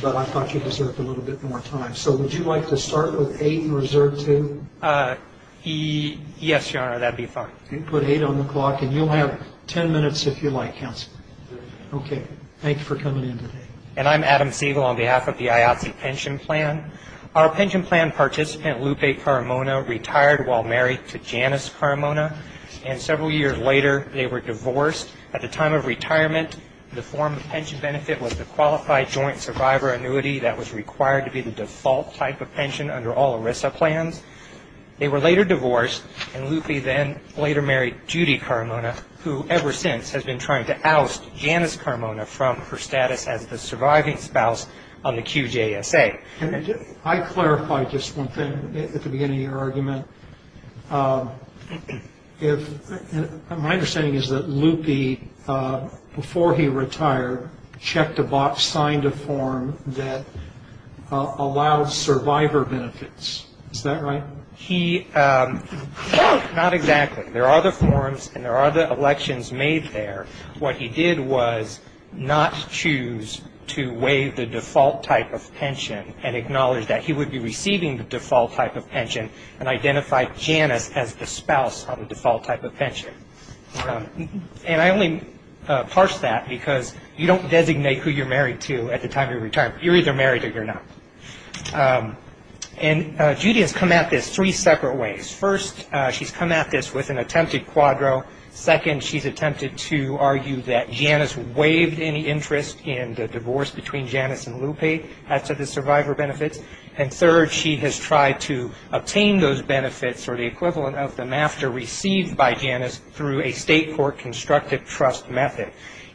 But I thought you deserved a little bit more time. So would you like to start with 8 and reserve 2? Yes, Your Honor, that would be fine. Okay, put 8 on the clock, and you'll have 10 minutes if you like, Counselor. Okay, thank you for coming in today. And I'm Adam Siegel on behalf of the IATSE pension plan. Our pension plan participant, Lupe Carmona, retired while married to Janice Carmona, and several years later they were divorced. At the time of retirement, the form of pension benefit was the qualified joint survivor annuity that was required to be the default type of pension under all ERISA plans. They were later divorced, and Lupe then later married Judy Carmona, who ever since has been trying to oust Janice Carmona from her status as the surviving spouse on the QJSA. Can I clarify just one thing at the beginning of your argument? My understanding is that Lupe, before he retired, checked a box, signed a form that allowed survivor benefits. Is that right? Not exactly. There are other forms, and there are other elections made there. What he did was not choose to waive the default type of pension and acknowledge that he would be receiving the default type of pension and identify Janice as the spouse of the default type of pension. And I only parse that because you don't designate who you're married to at the time of your retirement. You're either married or you're not. And Judy has come at this three separate ways. First, she's come at this with an attempted quadro. Second, she's attempted to argue that Janice waived any interest in the divorce between Janice and Lupe after the survivor benefits. And third, she has tried to obtain those benefits or the equivalent of them after received by Janice through a state court constructive trust method.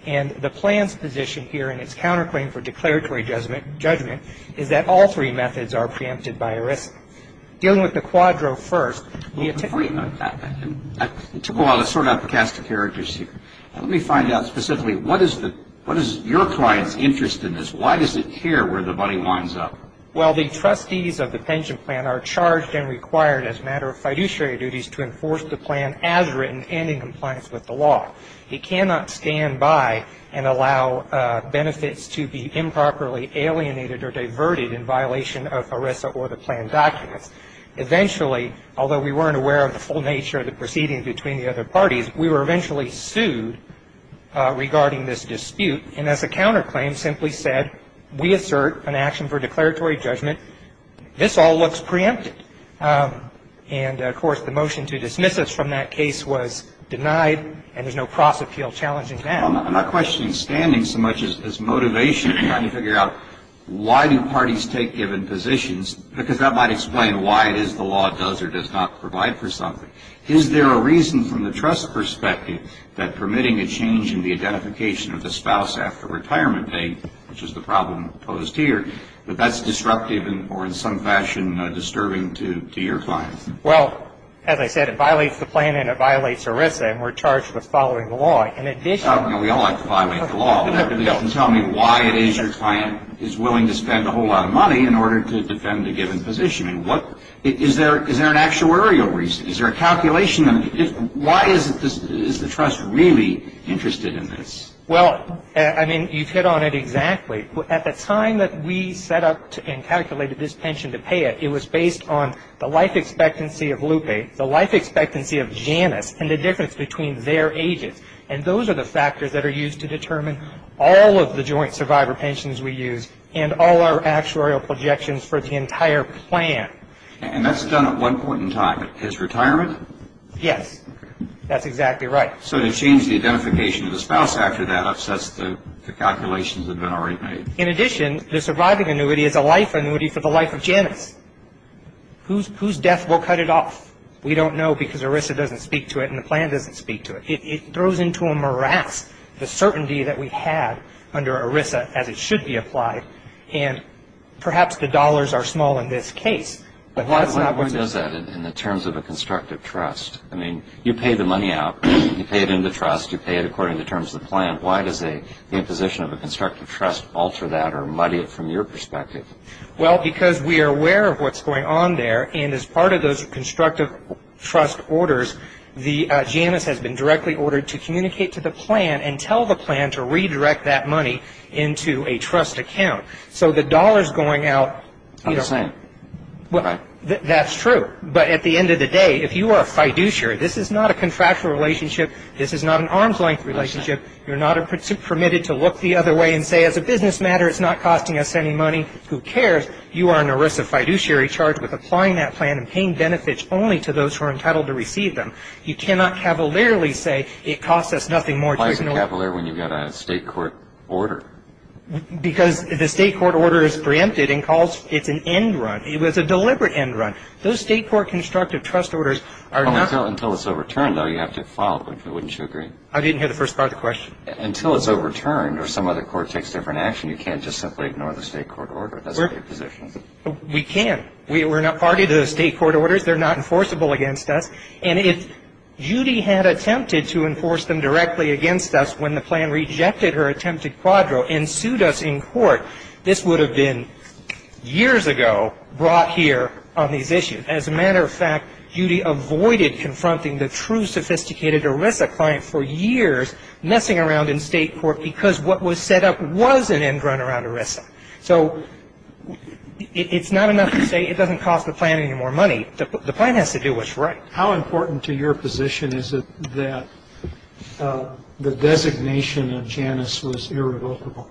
And the plan's position here, and it's counterclaim for declaratory judgment, is that all three methods are preempted by arrest. Dealing with the quadro first, it took a while to sort out the cast of characters here. Let me find out specifically, what is your client's interest in this? Why does it care where the money winds up? Well, the trustees of the pension plan are charged and required as a matter of fiduciary duties to enforce the plan as written and in compliance with the law. He cannot stand by and allow benefits to be improperly alienated or diverted in violation of ERISA or the plan documents. Eventually, although we weren't aware of the full nature of the proceedings between the other parties, we were eventually sued regarding this dispute. And as a counterclaim, simply said, we assert an action for declaratory judgment. This all looks preempted. And, of course, the motion to dismiss us from that case was denied, and there's no cross-appeal challenging that. Well, I'm not questioning standing so much as motivation, trying to figure out why do parties take given positions, because that might explain why it is the law does or does not provide for something. Is there a reason from the trust perspective that permitting a change in the identification of the spouse after retirement date, which is the problem posed here, that that's disruptive or in some fashion disturbing to your clients? Well, as I said, it violates the plan and it violates ERISA, and we're charged with following the law. We all like to violate the law, but at least you can tell me why it is your client is willing to spend a whole lot of money in order to defend a given position. Is there an actuarial reason? Is there a calculation? Why is the trust really interested in this? Well, I mean, you've hit on it exactly. At the time that we set up and calculated this pension to pay it, it was based on the life expectancy of Lupe, the life expectancy of Janice, and the difference between their ages. And those are the factors that are used to determine all of the joint survivor pensions we use and all our actuarial projections for the entire plan. And that's done at one point in time. Is retirement? Yes. That's exactly right. So to change the identification of the spouse after that upsets the calculations that have been already made. In addition, the surviving annuity is a life annuity for the life of Janice. Whose death will cut it off? We don't know because ERISA doesn't speak to it and the plan doesn't speak to it. It throws into a morass the certainty that we had under ERISA as it should be applied, and perhaps the dollars are small in this case. Why does that in the terms of a constructive trust? I mean, you pay the money out. You pay it in the trust. You pay it according to the terms of the plan. Why does the imposition of a constructive trust alter that or muddy it from your perspective? Well, because we are aware of what's going on there, and as part of those constructive trust orders, Janice has been directly ordered to communicate to the plan and tell the plan to redirect that money into a trust account. So the dollar's going out. I'm just saying. That's true. But at the end of the day, if you are a fiduciary, this is not a contractual relationship. This is not an arm's-length relationship. You're not permitted to look the other way and say, as a business matter, it's not costing us any money. Who cares? You are an ERISA fiduciary charged with applying that plan and paying benefits only to those who are entitled to receive them. You cannot cavalierly say it costs us nothing more. Why is it cavalier when you've got a state court order? Because the state court order is preempted and calls it's an end run. It was a deliberate end run. Those state court constructive trust orders are not. Until it's overturned, though, you have to file it, wouldn't you agree? I didn't hear the first part of the question. Until it's overturned or some other court takes different action, you can't just simply ignore the state court order. That's not your position. We can. We're not party to the state court orders. They're not enforceable against us. And if Judy had attempted to enforce them directly against us when the plan rejected her attempted quadro and sued us in court, this would have been years ago brought here on these issues. As a matter of fact, Judy avoided confronting the true sophisticated ERISA client for years messing around in state court because what was set up was an end run around ERISA. So it's not enough to say it doesn't cost the plan any more money. The plan has to do what's right. How important to your position is it that the designation of Janus was irrevocable?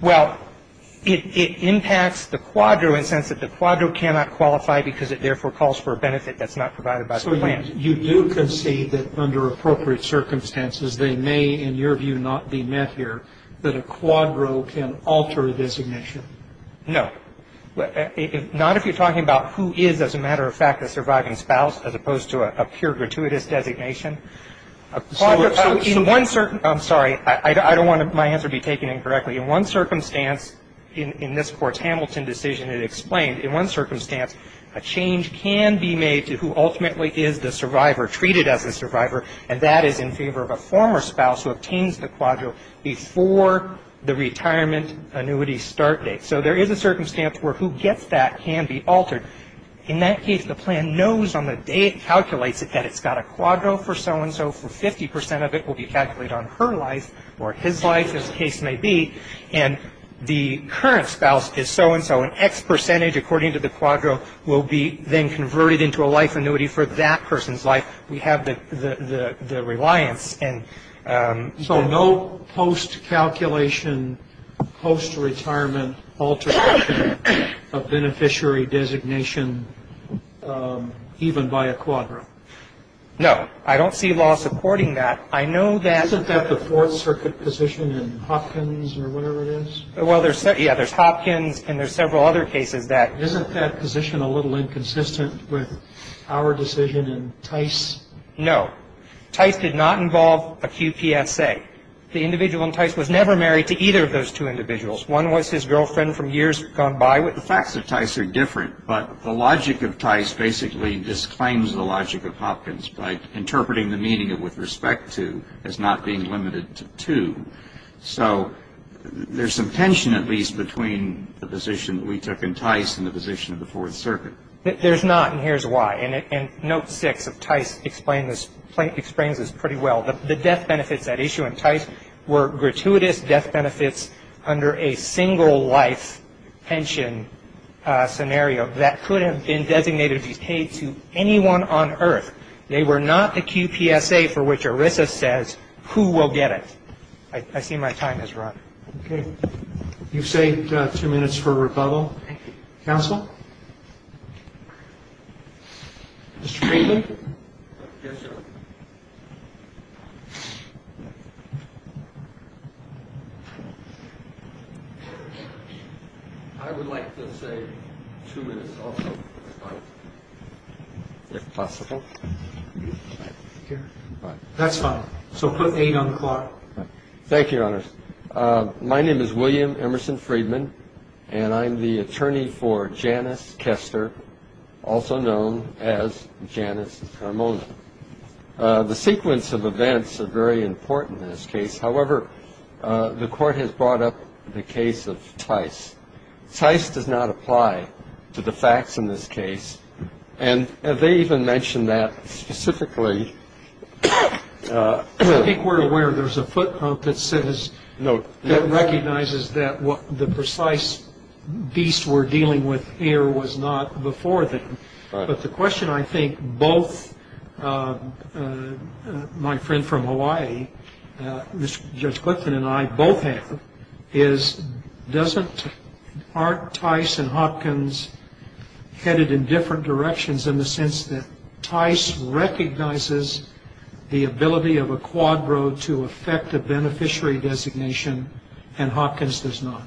Well, it impacts the quadro in the sense that the quadro cannot qualify because it therefore calls for a benefit that's not provided by the plan. So you do concede that under appropriate circumstances they may, in your view, not be met here, that a quadro can alter a designation? No. Not if you're talking about who is, as a matter of fact, a surviving spouse as opposed to a pure gratuitous designation. So in one certain – I'm sorry. I don't want my answer to be taken incorrectly. In one circumstance, in this Court's Hamilton decision it explained, in one circumstance a change can be made to who ultimately is the survivor, treated as a survivor, and that is in favor of a former spouse who obtains the quadro before the retirement annuity start date. So there is a circumstance where who gets that can be altered. In that case, the plan knows on the day it calculates it that it's got a quadro for so-and-so for 50 percent of it will be calculated on her life or his life, as the case may be, and the current spouse is so-and-so. An X percentage, according to the quadro, will be then converted into a life annuity for that person's life. We have the reliance. So no post-calculation, post-retirement alteration of beneficiary designation even by a quadro? No. I don't see law supporting that. I know that – Isn't that the Fourth Circuit position in Hopkins or whatever it is? Well, yeah, there's Hopkins and there's several other cases that – Isn't that position a little inconsistent with our decision in Tice? No. Tice did not involve a QPSA. The individual in Tice was never married to either of those two individuals. One was his girlfriend from years gone by. The facts of Tice are different, but the logic of Tice basically disclaims the logic of Hopkins by interpreting the meaning of with respect to as not being limited to two. So there's some tension at least between the position that we took in Tice and the position of the Fourth Circuit. There's not, and here's why. And Note 6 of Tice explains this pretty well. The death benefits at issue in Tice were gratuitous death benefits under a single-life pension scenario that could have been designated to be paid to anyone on earth. They were not the QPSA for which ERISA says who will get it. I see my time has run. Okay. You've saved two minutes for rebuttal. Thank you. Counsel? Mr. Friedman? Yes, Your Honor. I would like to say two minutes also. All right. If possible. That's fine. So put eight on the clock. Thank you, Your Honor. My name is William Emerson Friedman, and I'm the attorney for Janice Kester, also known as Janice Carmona. The sequence of events are very important in this case. However, the Court has brought up the case of Tice. Tice does not apply to the facts in this case, and they even mention that specifically. I think we're aware there's a footnote that says that recognizes that the precise beast we're dealing with here was not before them. But the question I think both my friend from Hawaii, Judge Clifton and I both have, is doesn't Tice and Hopkins headed in different directions in the sense that Tice recognizes the ability of a quadro to affect a beneficiary designation and Hopkins does not?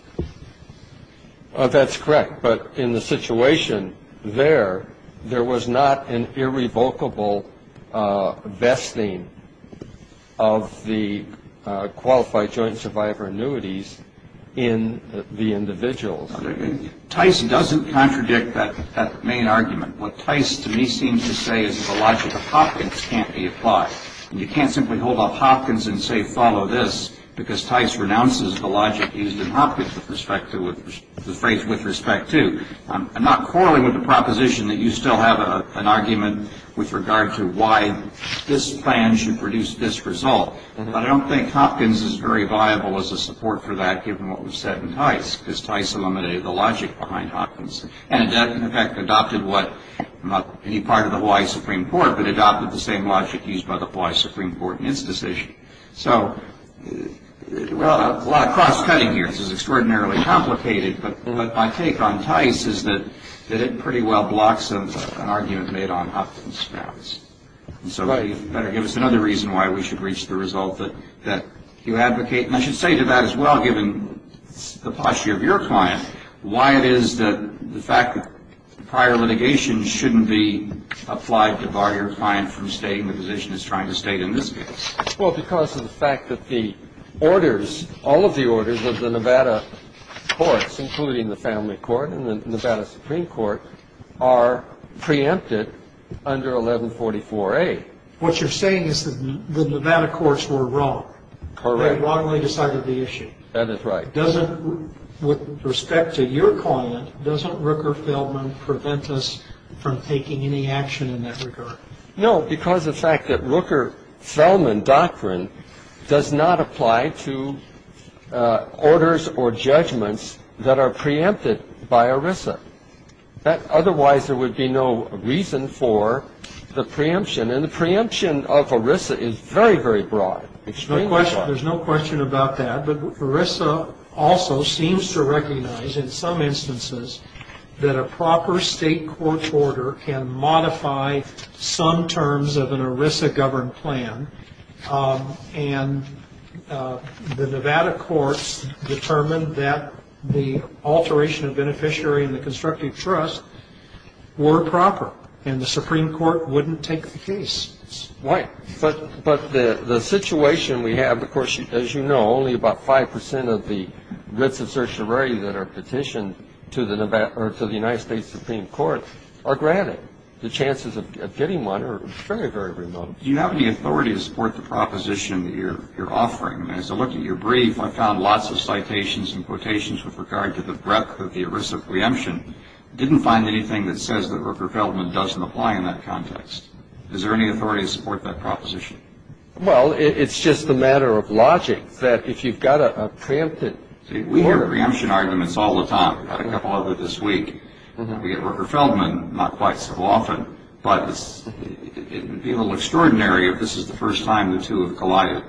That's correct. But in the situation there, there was not an irrevocable vesting of the qualified joint survivor annuities in the individuals. Tice doesn't contradict that main argument. What Tice to me seems to say is the logic of Hopkins can't be applied. You can't simply hold up Hopkins and say, follow this, because Tice renounces the logic used in Hopkins with respect to the phrase with respect to. I'm not quarreling with the proposition that you still have an argument with regard to why this plan should produce this result, but I don't think Hopkins is very viable as a support for that given what was said in Tice, because Tice eliminated the logic behind Hopkins and in fact adopted what not any part of the Hawaii Supreme Court, but adopted the same logic used by the Hawaii Supreme Court in its decision. So, well, a lot of cross-cutting here. This is extraordinarily complicated, but my take on Tice is that it pretty well blocks an argument made on Hopkins grounds. So you better give us another reason why we should reach the result that you advocate. And I should say to that as well, given the posture of your client, why it is that the fact that prior litigation shouldn't be applied to bar your client from staying the position it's trying to stay in this case. Well, because of the fact that the orders, all of the orders of the Nevada courts, including the family court and the Nevada Supreme Court, are preempted under 1144A. What you're saying is that the Nevada courts were wrong. Correct. They wrongly decided the issue. That is right. With respect to your client, doesn't Rooker-Feldman prevent us from taking any action in that regard? No, because of the fact that Rooker-Feldman doctrine does not apply to orders or judgments that are preempted by ERISA. Otherwise, there would be no reason for the preemption. And the preemption of ERISA is very, very broad. There's no question about that. But ERISA also seems to recognize in some instances that a proper state court order can modify some terms of an ERISA-governed plan. And the Nevada courts determined that the alteration of beneficiary and the constructive trust were proper, and the Supreme Court wouldn't take the case. Right. But the situation we have, of course, as you know, only about 5% of the writs of certiorari that are petitioned to the United States Supreme Court are granted. The chances of getting one are very, very remote. Do you have any authority to support the proposition that you're offering? As I looked at your brief, I found lots of citations and quotations with regard to the breadth of the ERISA preemption. I didn't find anything that says that Rooker-Feldman doesn't apply in that context. Is there any authority to support that proposition? Well, it's just a matter of logic, that if you've got a preempted order. We hear preemption arguments all the time. We've had a couple of them this week. We get Rooker-Feldman not quite so often. But it would be a little extraordinary if this is the first time the two have collided.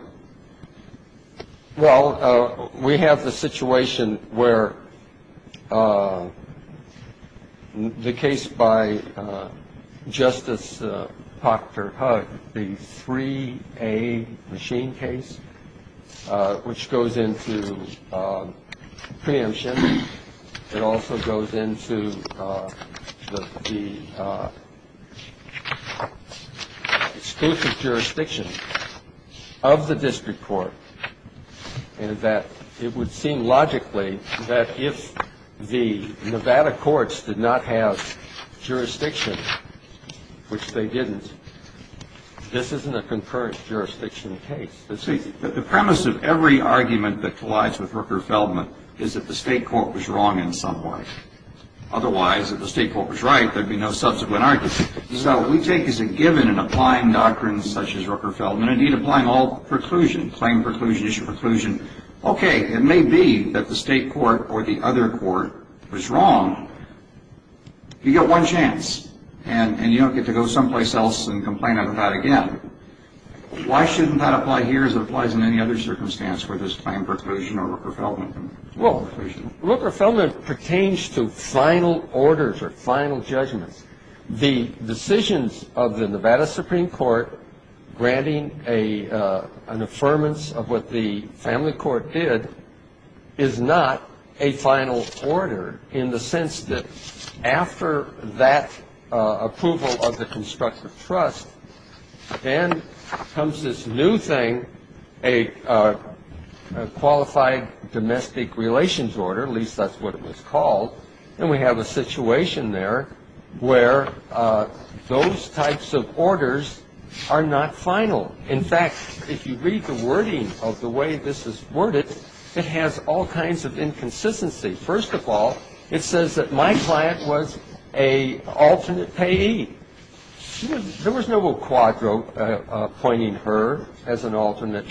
Well, we have the situation where the case by Justice Pachter-Hugg, the 3A machine case, which goes into preemption. It also goes into the state of jurisdiction of the district court. And that it would seem logically that if the Nevada courts did not have jurisdiction, which they didn't, this isn't a concurrent jurisdiction case. But see, the premise of every argument that collides with Rooker-Feldman is that the state court was wrong in some way. Otherwise, if the state court was right, there'd be no subsequent argument. So we take as a given in applying doctrines such as Rooker-Feldman, indeed applying all preclusion, claim preclusion, issue preclusion, okay, it may be that the state court or the other court was wrong. You get one chance, and you don't get to go someplace else and complain about it again. Why shouldn't that apply here as it applies in any other circumstance, whether it's claim preclusion or Rooker-Feldman? Well, Rooker-Feldman pertains to final orders or final judgments. The decisions of the Nevada Supreme Court granting an affirmance of what the family court did is not a final order in the sense that after that approval of the constructive trust, then comes this new thing, a qualified domestic relations order, at least that's what it was called, and we have a situation there where those types of orders are not final. In fact, if you read the wording of the way this is worded, it has all kinds of inconsistency. First of all, it says that my client was an alternate payee. There was no quadro pointing her as an alternate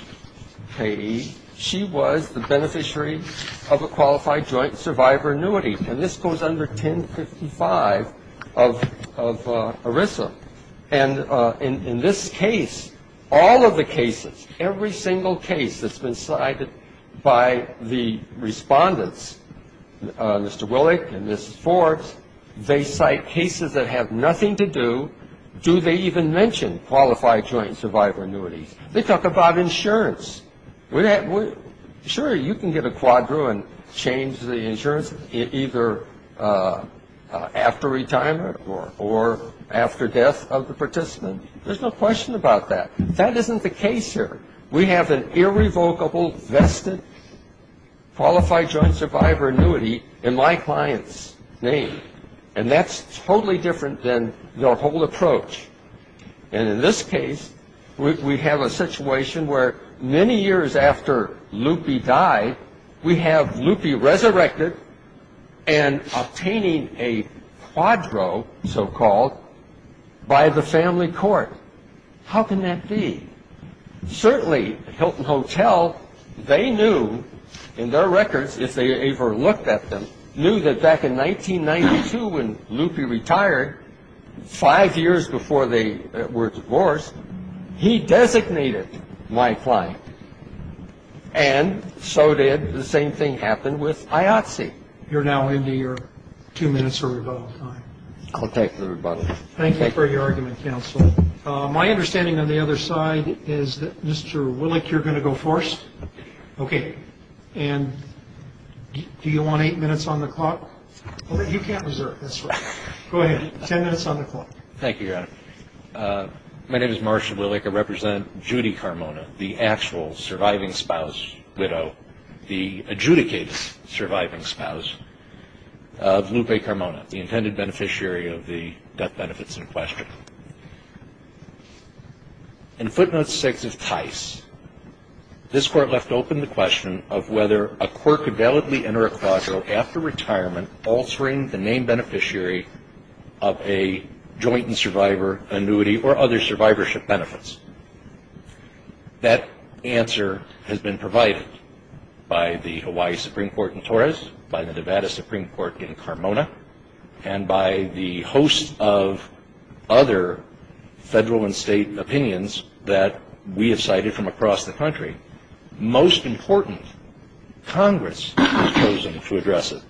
payee. She was the beneficiary of a qualified joint survivor annuity, and this goes under 1055 of ERISA. And in this case, all of the cases, every single case that's been cited by the respondents, Mr. Willick and Mrs. Forbes, they cite cases that have nothing to do, do they even mention qualified joint survivor annuities? They talk about insurance. Sure, you can get a quadro and change the insurance, either after retirement or after death of the participant. There's no question about that. That isn't the case here. We have an irrevocable, vested qualified joint survivor annuity in my client's name, and that's totally different than the whole approach. And in this case, we have a situation where many years after Lupe died, we have Lupe resurrected and obtaining a quadro, so-called, by the family court. How can that be? Certainly, Hilton Hotel, they knew in their records, if they ever looked at them, knew that back in 1992 when Lupe retired, five years before they were divorced, he designated my client. And so did the same thing happen with IOTSE. You're now into your two minutes of rebuttal time. I'll take the rebuttal. Thank you for your argument, counsel. My understanding on the other side is that Mr. Willick, you're going to go first? Okay. Okay. And do you want eight minutes on the clock? You can't reserve this one. Go ahead. Ten minutes on the clock. Thank you, Your Honor. My name is Marshall Willick. I represent Judy Carmona, the actual surviving spouse, widow, the adjudicated surviving spouse of Lupe Carmona, the intended beneficiary of the death benefits in question. In footnote six of TICE, this Court left open the question of whether a court could validly enter a quadro after retirement altering the name beneficiary of a joint and survivor annuity or other survivorship benefits. That answer has been provided by the Hawaii Supreme Court in Torres, by the Nevada Supreme Court in Carmona, and by the host of other federal and state opinions that we have cited from across the country. Most important, Congress has chosen to address it.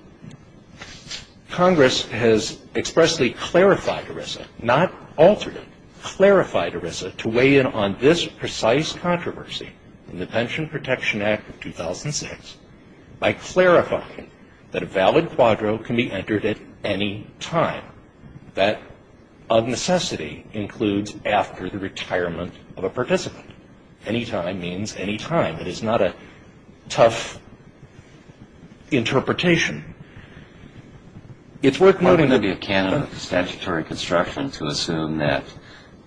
Congress has expressly clarified ERISA, not altered it, clarified ERISA to weigh in on this precise controversy in the Pension Protection Act of 2006 by clarifying that a valid quadro can be entered at any time. That of necessity includes after the retirement of a participant. Any time means any time. It is not a tough interpretation. It's worth noting that the canon of statutory construction to assume that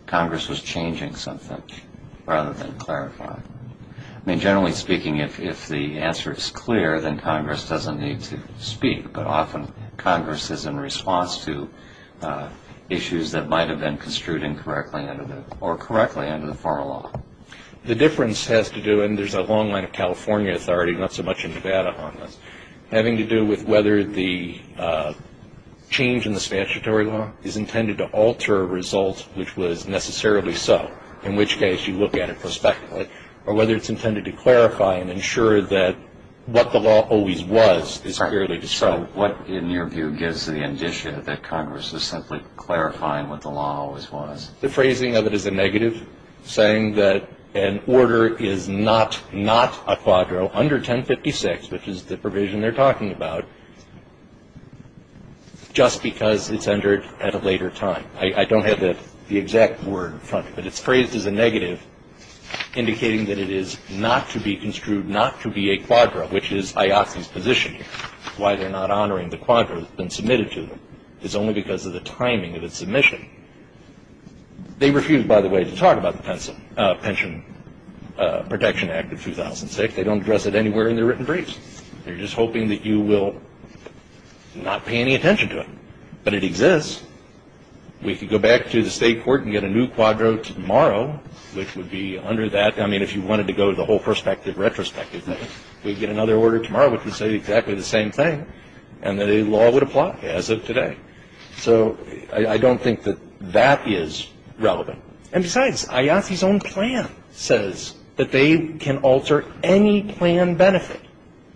Congress was changing something rather than clarify. I mean, generally speaking, if the answer is clear, then Congress doesn't need to speak, but often Congress is in response to issues that might have been construed incorrectly or correctly under the former law. The difference has to do, and there's a long line of California authority, not so much in Nevada on this, having to do with whether the change in the statutory law is intended to alter a result which was necessarily so, in which case you look at it prospectively, or whether it's intended to clarify and ensure that what the law always was is clearly to show. So what, in your view, gives the indition that Congress is simply clarifying what the law always was? The phrasing of it is a negative, saying that an order is not a quadro under 1056, which is the provision they're talking about, just because it's entered at a later time. I don't have the exact word in front of me, but it's phrased as a negative, indicating that it is not to be construed not to be a quadro, which is IOC's position here. Why they're not honoring the quadro that's been submitted to them is only because of the timing of its submission. They refused, by the way, to talk about the Pension Protection Act of 2006. They don't address it anywhere in their written briefs. They're just hoping that you will not pay any attention to it. But it exists. We could go back to the State court and get a new quadro tomorrow, which would be under that. I mean, if you wanted to go to the whole perspective, retrospective thing, we'd get another order tomorrow which would say exactly the same thing, and that a law would apply as of today. So I don't think that that is relevant. And besides, IOC's own plan says that they can alter any plan benefit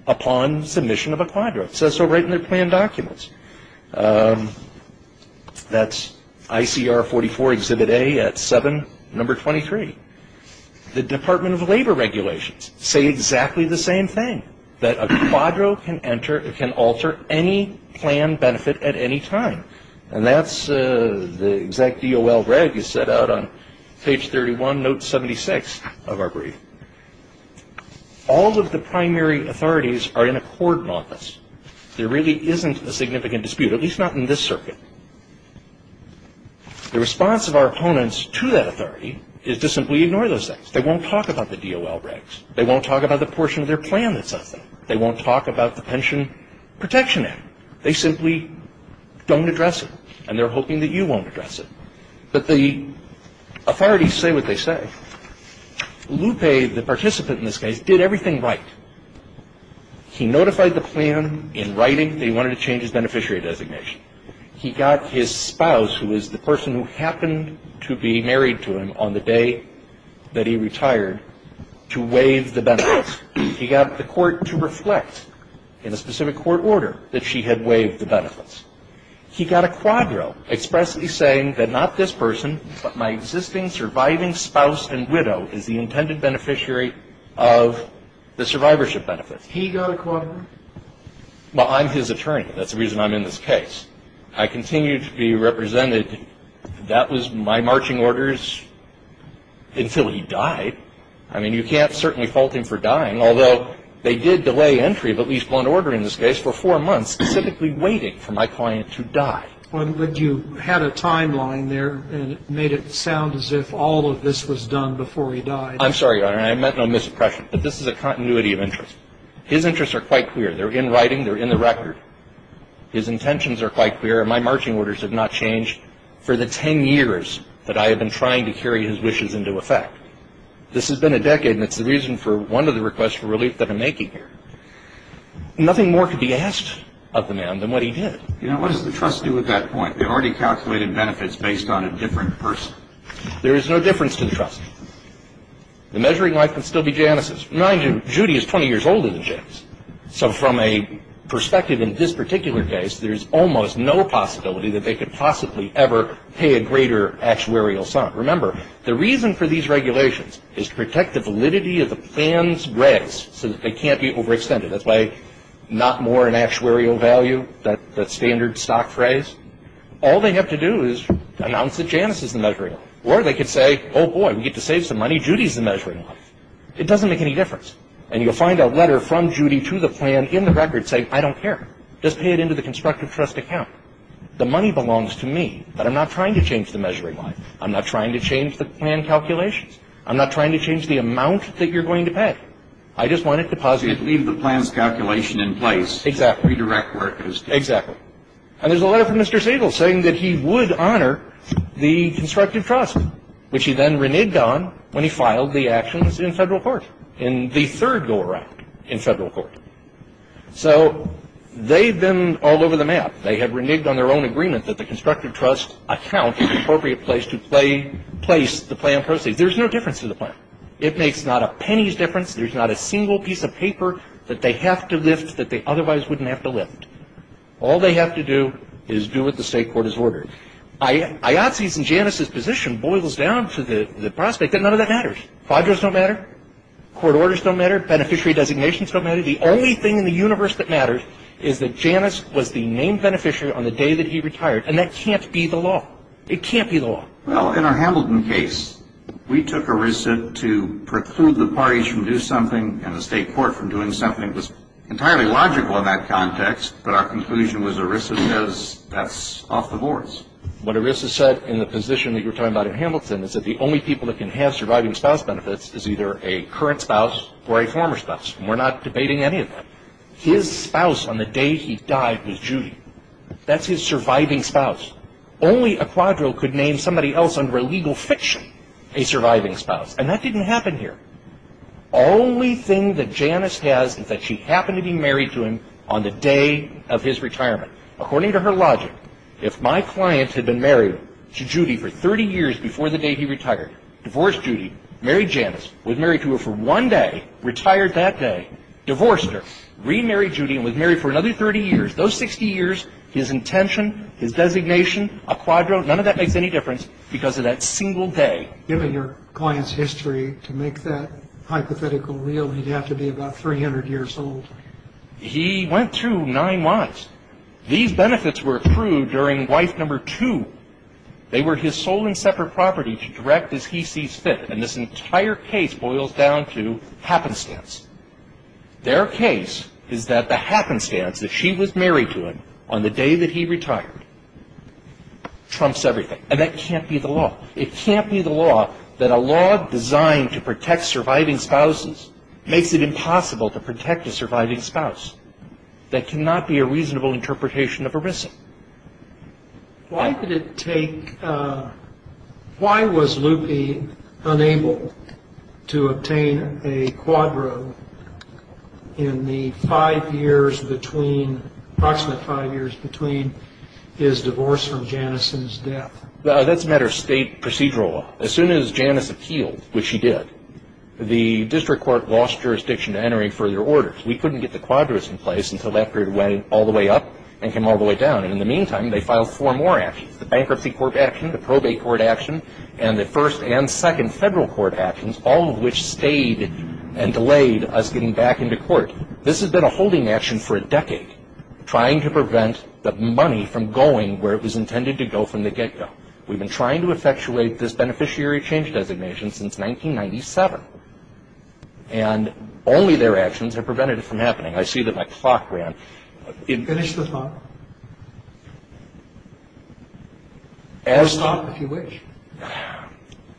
upon submission of a quadro. It says so right in their plan documents. That's ICR 44 Exhibit A at 7, number 23. The Department of Labor regulations say exactly the same thing, that a quadro can alter any plan benefit at any time. And that's the exact DOL reg you set out on page 31, note 76 of our brief. All of the primary authorities are in accord on this. There really isn't a significant dispute, at least not in this circuit. The response of our opponents to that authority is to simply ignore those things. They won't talk about the DOL regs. They won't talk about the portion of their plan that says that. They won't talk about the Pension Protection Act. They simply don't address it, and they're hoping that you won't address it. But the authorities say what they say. Lupe, the participant in this case, did everything right. He notified the plan in writing that he wanted to change his beneficiary designation. He got his spouse, who is the person who happened to be married to him on the day that he retired, to waive the benefits. He got the court to reflect in a specific court order that she had waived the benefits. He got a quadro expressly saying that not this person, but my existing surviving spouse and widow, is the intended beneficiary of the survivorship benefits. He got a quadro? Well, I'm his attorney. That's the reason I'm in this case. I continue to be represented. That was my marching orders until he died. I mean, you can't certainly fault him for dying, although they did delay entry of at least one order in this case for four months, specifically waiting for my client to die. But you had a timeline there, and it made it sound as if all of this was done before he died. I'm sorry, Your Honor. I meant no misimpression, but this is a continuity of interest. His interests are quite clear. They're in writing. They're in the record. His intentions are quite clear, and my marching orders have not changed for the 10 years that I have been trying to carry his wishes into effect. This has been a decade, and it's the reason for one of the requests for relief that I'm making here. Nothing more could be asked of the man than what he did. You know, what does the trust do at that point? They've already calculated benefits based on a different person. There is no difference to the trust. The measuring wife can still be Janice's. Mind you, Judy is 20 years older than Janice. So from a perspective in this particular case, there's almost no possibility that they could possibly ever pay a greater actuarial sum. Remember, the reason for these regulations is to protect the validity of the plan's grace so that they can't be overextended. That's why not more an actuarial value, that standard stock phrase. All they have to do is announce that Janice is the measuring wife. Or they could say, oh, boy, we get to save some money. Judy is the measuring wife. It doesn't make any difference. And you'll find a letter from Judy to the plan in the record saying, I don't care. Just pay it into the constructive trust account. The money belongs to me, but I'm not trying to change the measuring wife. I'm not trying to change the plan calculations. I'm not trying to change the amount that you're going to pay. I just want it deposited. Leave the plan's calculation in place. Exactly. Redirect workers. Exactly. And there's a letter from Mr. Siegel saying that he would honor the constructive trust, which he then reneged on when he filed the actions in federal court in the third go-around in federal court. So they've been all over the map. They have reneged on their own agreement that the constructive trust account is the appropriate place to place the plan proceeds. There's no difference to the plan. It makes not a penny's difference. There's not a single piece of paper that they have to lift that they otherwise wouldn't have to lift. All they have to do is do what the state court has ordered. Iotse's and Janice's position boils down to the prospect that none of that matters. Fibers don't matter. Court orders don't matter. Beneficiary designations don't matter. The only thing in the universe that matters is that Janice was the named beneficiary on the day that he retired, and that can't be the law. It can't be the law. Well, in our Hamilton case, we took ERISA to preclude the parties from doing something, and the state court from doing something. It was entirely logical in that context, but our conclusion was ERISA says that's off the boards. What ERISA said in the position that you were talking about in Hamilton is that the only people that can have surviving spouse benefits is either a current spouse or a former spouse. We're not debating any of that. His spouse on the day he died was Judy. That's his surviving spouse. Only a quadro could name somebody else under a legal fiction a surviving spouse, and that didn't happen here. Only thing that Janice has is that she happened to be married to him on the day of his retirement. According to her logic, if my client had been married to Judy for 30 years before the day he retired, divorced Judy, married Janice, was married to her for one day, retired that day, divorced her, remarried Judy, and was married for another 30 years, those 60 years, his intention, his designation, a quadro, none of that makes any difference because of that single day. Given your client's history, to make that hypothetical real, he'd have to be about 300 years old. He went through nine months. These benefits were approved during wife number two. They were his sole and separate property to direct as he sees fit. And this entire case boils down to happenstance. Their case is that the happenstance, that she was married to him on the day that he retired, trumps everything. And that can't be the law. It can't be the law that a law designed to protect surviving spouses makes it impossible to protect a surviving spouse. That cannot be a reasonable interpretation of a risk. Why did it take, why was Lupe unable to obtain a quadro in the five years between, approximately five years between his divorce from Janice's death? That's a matter of state procedural law. As soon as Janice appealed, which she did, the district court lost jurisdiction to entering further orders. We couldn't get the quadros in place until after it went all the way up and came all the way down. And in the meantime, they filed four more actions, the bankruptcy court action, the probate court action, and the first and second federal court actions, all of which stayed and delayed us getting back into court. This has been a holding action for a decade, trying to prevent the money from going where it was intended to go from the get-go. We've been trying to effectuate this beneficiary change designation since 1997. And only their actions have prevented it from happening. I see that my clock ran. Finish the thought. I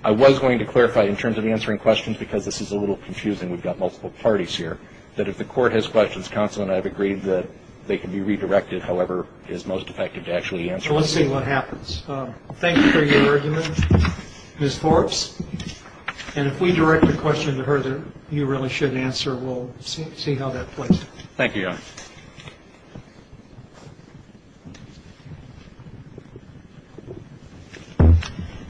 was going to clarify in terms of answering questions, because this is a little confusing. We've got multiple parties here, that if the Court has questions, counsel and I have agreed that they can be redirected however is most effective to actually answer them. So let's see what happens. Thank you for your argument, Ms. Forbes. And if we direct a question to her that you really shouldn't answer, we'll see how that plays out. Thank you, Your Honor.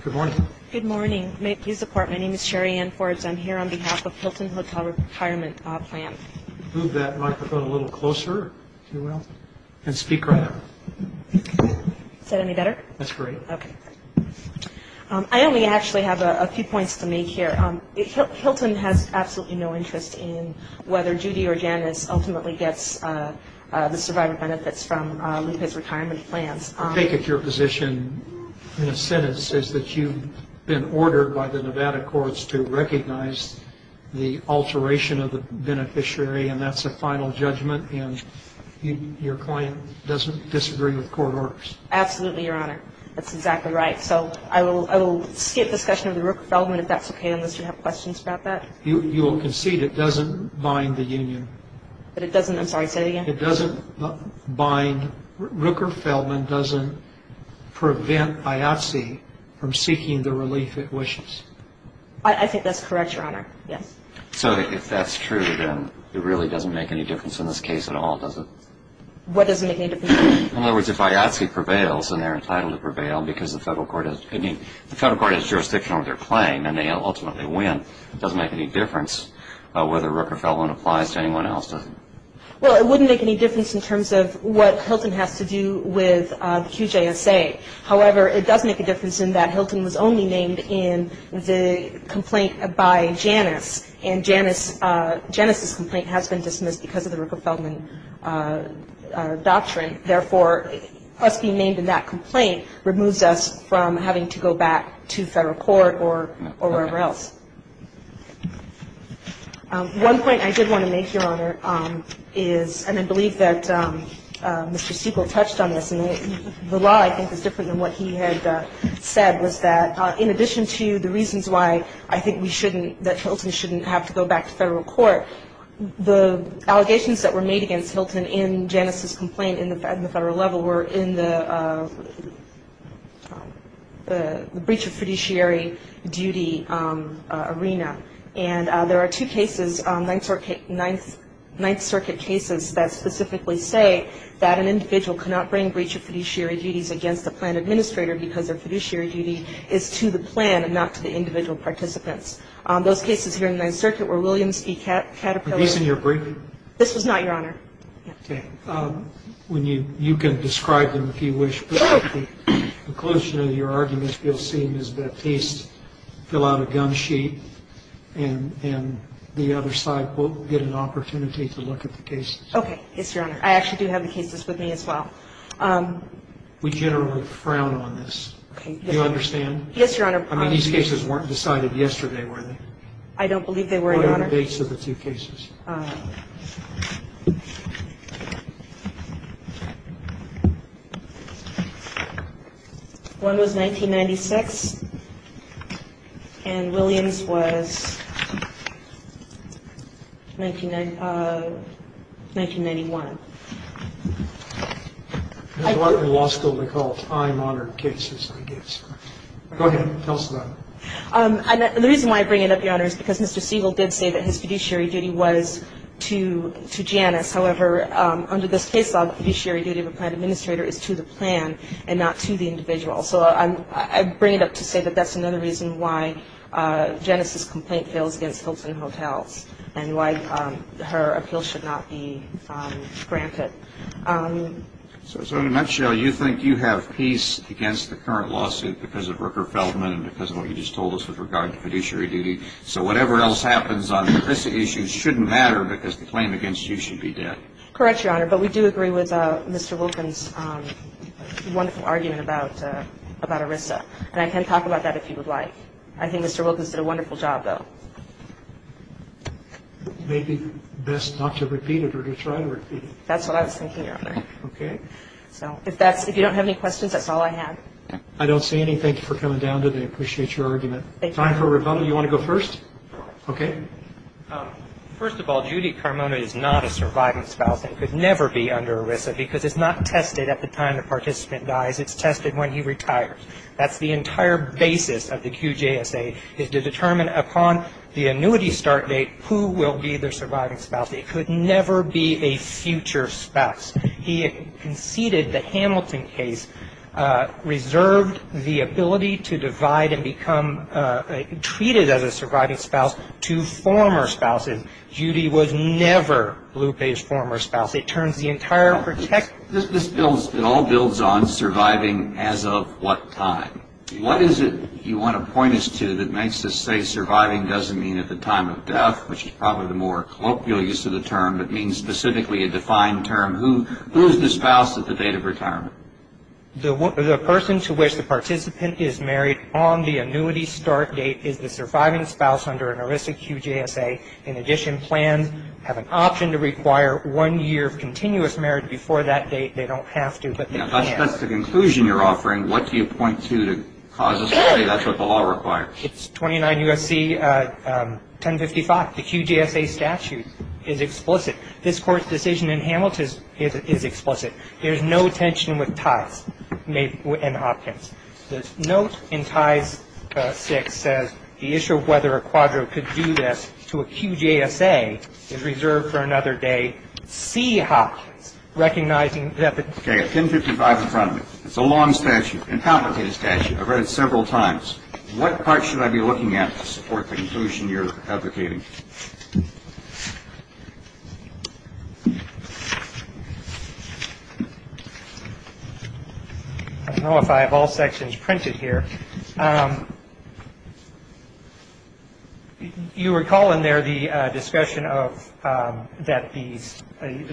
Good morning. Good morning. May it please the Court, my name is Sherri Ann Forbes. I'm here on behalf of Hilton Hotel Retirement Plan. Move that microphone a little closer, if you will, and speak right up. Is that any better? That's great. Okay. I only actually have a few points to make here. Hilton has absolutely no interest in whether Judy or Janice ultimately gets the survivor benefits from Lupe's retirement plans. I take it your position in a sentence is that you've been ordered by the Nevada courts to recognize the alteration of the beneficiary, and that's a final judgment, and your client doesn't disagree with court orders. Absolutely, Your Honor. That's exactly right. So I will skip discussion of the Rooker-Feldman if that's okay, unless you have questions about that. You will concede it doesn't bind the union? It doesn't. I'm sorry, say that again. It doesn't bind. Rooker-Feldman doesn't prevent IATSE from seeking the relief it wishes. I think that's correct, Your Honor. Yes. So if that's true, then it really doesn't make any difference in this case at all, does it? What doesn't make any difference? In other words, if IATSE prevails and they're entitled to prevail because the federal court has jurisdiction over their claim and they ultimately win, it doesn't make any difference whether Rooker-Feldman applies to anyone else, does it? Well, it wouldn't make any difference in terms of what Hilton has to do with QJSA. However, it does make a difference in that Hilton was only named in the complaint by Janice, and Janice's complaint has been dismissed because of the Rooker-Feldman doctrine. Therefore, us being named in that complaint removes us from having to go back to federal court or wherever else. One point I did want to make, Your Honor, is, and I believe that Mr. Sequel touched on this, and the law, I think, is different than what he had said, was that in addition to the reasons why I think we shouldn't that Hilton shouldn't have to go back to federal court, the allegations that were made against Hilton in Janice's complaint in the federal level were in the breach of fiduciary duty arena. And there are two cases, Ninth Circuit cases, that specifically say that an individual cannot bring breach of fiduciary duties against a plan administrator because their fiduciary duty is to the plan and not to the individual participants. Those cases here in the Ninth Circuit were Williams v. Caterpillar. Were these in your briefing? This was not, Your Honor. Okay. You can describe them if you wish, but at the conclusion of your arguments, you'll see Ms. Baptiste fill out a gun sheet, and the other side will get an opportunity to look at the cases. Okay. Yes, Your Honor. I actually do have the cases with me as well. We generally frown on this. Okay. Do you understand? Yes, Your Honor. I mean, these cases weren't decided yesterday, were they? I don't believe they were, Your Honor. What are the dates of the two cases? One was 1996, and Williams was 1991. There's a lot in law school they call time-honored cases, I guess. Go ahead. Tell us about it. The reason why I bring it up, Your Honor, is because Mr. Siegel did say that his fiduciary duty was to Janice. However, under this case law, the fiduciary duty of a plan administrator is to the plan and not to the individual. So I bring it up to say that that's another reason why Janice's complaint fails against Hilton Hotels and why her appeal should not be granted. So in a nutshell, you think you have peace against the current lawsuit because of Rooker-Feldman and because of what you just told us with regard to fiduciary duty. So whatever else happens on the ERISA issue shouldn't matter because the claim against you should be dead. Correct, Your Honor. But we do agree with Mr. Wilkins' wonderful argument about ERISA. And I can talk about that if you would like. I think Mr. Wilkins did a wonderful job, though. Maybe best not to repeat it or to try to repeat it. That's what I was thinking, Your Honor. Okay. So if you don't have any questions, that's all I have. I don't see anything. Thank you for coming down today. I appreciate your argument. Thank you. Time for a rebuttal. You want to go first? Okay. First of all, Judy Carmona is not a surviving spouse and could never be under ERISA because it's not tested at the time the participant dies. It's tested when he retires. That's the entire basis of the QJSA is to determine upon the annuity start date who will be the surviving spouse. It could never be a future spouse. He conceded the Hamilton case reserved the ability to divide and become treated as a surviving spouse to former spouses. Judy was never Blupe's former spouse. It turns the entire protection. It all builds on surviving as of what time. What is it you want to point us to that makes us say surviving doesn't mean at the time of death, which is probably the more colloquial use of the term, but means specifically a defined term? Who is the spouse at the date of retirement? The person to which the participant is married on the annuity start date is the surviving spouse under an ERISA QJSA. In addition, plans have an option to require one year of continuous marriage before that date. They don't have to, but they can. That's the conclusion you're offering. What do you point to to cause us to say that's what the law requires? It's 29 U.S.C. 1055. The QJSA statute is explicit. This Court's decision in Hamilton is explicit. There's no tension with ties and options. The note in Ties VI says the issue of whether a quadro could do this to a QJSA is reserved for another day. Seehawks, recognizing that the ---- Okay. 1055 in front of me. It's a long statute, and complicated statute. I've read it several times. What part should I be looking at to support the conclusion you're advocating? Thank you. I don't know if I have all sections printed here. You recall in there the discussion of that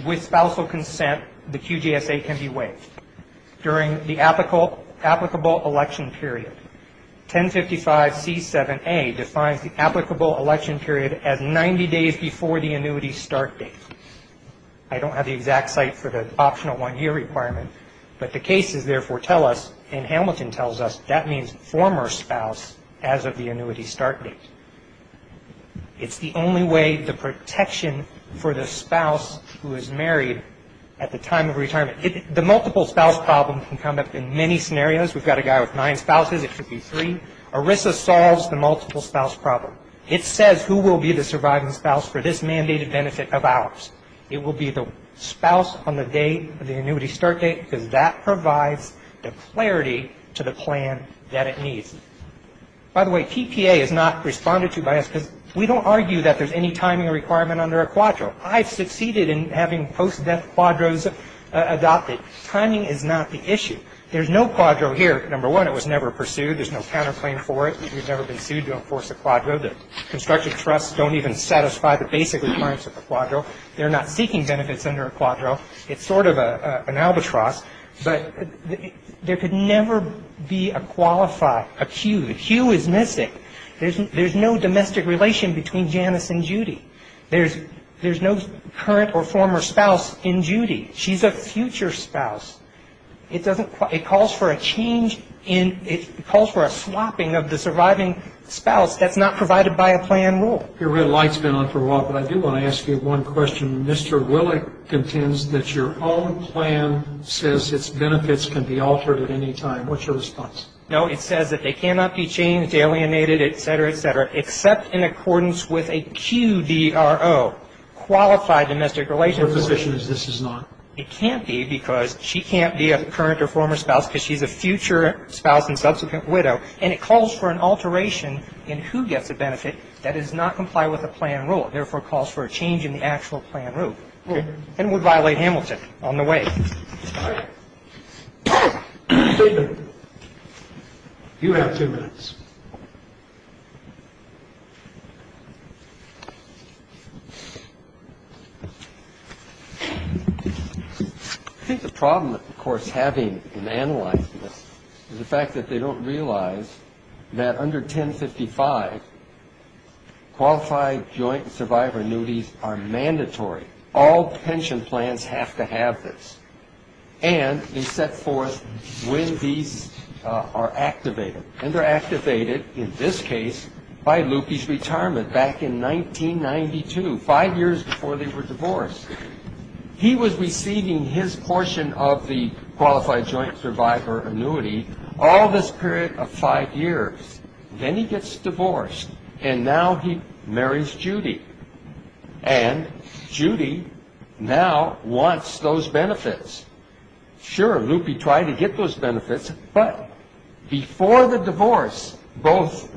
with spousal consent, the QJSA can be waived during the applicable election period. 1055C7A defines the applicable election period as 90 days before the annuity start date. I don't have the exact site for the optional one-year requirement, but the cases therefore tell us, and Hamilton tells us, that means former spouse as of the annuity start date. It's the only way the protection for the spouse who is married at the time of retirement. The multiple spouse problem can come up in many scenarios. We've got a guy with nine spouses. It could be three. ERISA solves the multiple spouse problem. It says who will be the surviving spouse for this mandated benefit of ours. It will be the spouse on the date of the annuity start date because that provides the clarity to the plan that it needs. By the way, TPA is not responded to by us because we don't argue that there's any timing requirement under a quadro. I've succeeded in having post-death quadros adopted. Timing is not the issue. There's no quadro here. Number one, it was never pursued. There's no counterclaim for it. We've never been sued to enforce a quadro. The constructive trusts don't even satisfy the basic requirements of a quadro. They're not seeking benefits under a quadro. It's sort of an albatross, but there could never be a qualified, a hue. A hue is missing. There's no domestic relation between Janice and Judy. There's no current or former spouse in Judy. She's a future spouse. It calls for a change in ñ it calls for a swapping of the surviving spouse. That's not provided by a plan rule. Your red light's been on for a while, but I do want to ask you one question. Mr. Willick contends that your own plan says its benefits can be altered at any time. What's your response? No, it says that they cannot be changed, alienated, et cetera, et cetera, except in accordance with a QDRO, Qualified Domestic Relations. Your position is this is not? It can't be because she can't be a current or former spouse because she's a future spouse and subsequent widow, and it calls for an alteration in who gets a benefit that does not comply with the plan rule, therefore calls for a change in the actual plan rule. Okay. And would violate Hamilton on the way. All right. David, you have two minutes. I think the problem, of course, having an analyst is the fact that they don't realize that under 1055, qualified joint survivor annuities are mandatory. All pension plans have to have this. And they set forth when these are activated. And they're activated, in this case, by Lupe's retirement back in 1992, five years before they were divorced. He was receiving his portion of the qualified joint survivor annuity all this period of five years. Then he gets divorced, and now he marries Judy. And Judy now wants those benefits. Sure, Lupe tried to get those benefits, but before the divorce, both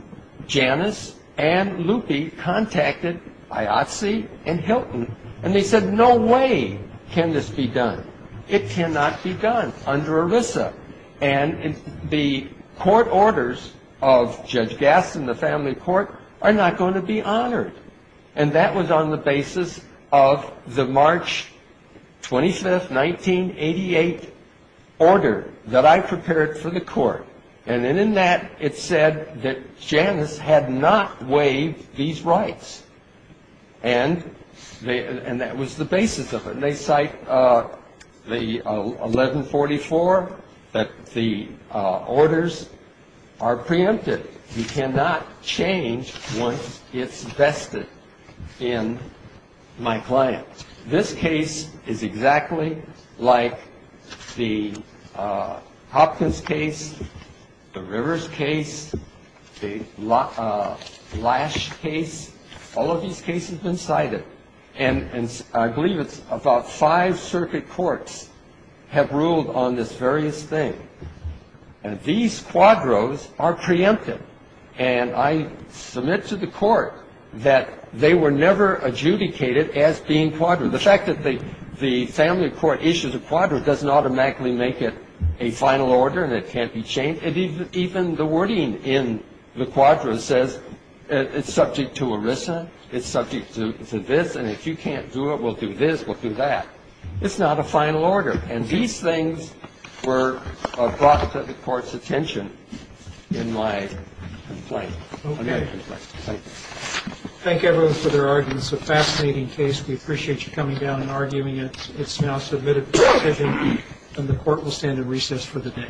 Janice and Lupe contacted IOTC and Hilton, and they said no way can this be done. It cannot be done under ELISA. And the court orders of Judge Gaston, the family court, are not going to be honored. And that was on the basis of the March 25th, 1988 order that I prepared for the court. And in that, it said that Janice had not waived these rights. And that was the basis of it. And they cite the 1144, that the orders are preempted. You cannot change once it's vested in my client. This case is exactly like the Hopkins case, the Rivers case, the Lash case. All of these cases have been cited. And I believe it's about five circuit courts have ruled on this various thing. And these quadros are preempted. And I submit to the court that they were never adjudicated as being quadros. The fact that the family court issues a quadro doesn't automatically make it a final order, and it can't be changed. And even the wording in the quadro says it's subject to ERISA, it's subject to this, and if you can't do it, we'll do this, we'll do that. It's not a final order. And these things were brought to the court's attention in my complaint, in my complaint. Thank you. Thank you, everyone, for their arguments. It's a fascinating case. We appreciate you coming down and arguing it. It's now submitted. And the court will stand in recess for the day.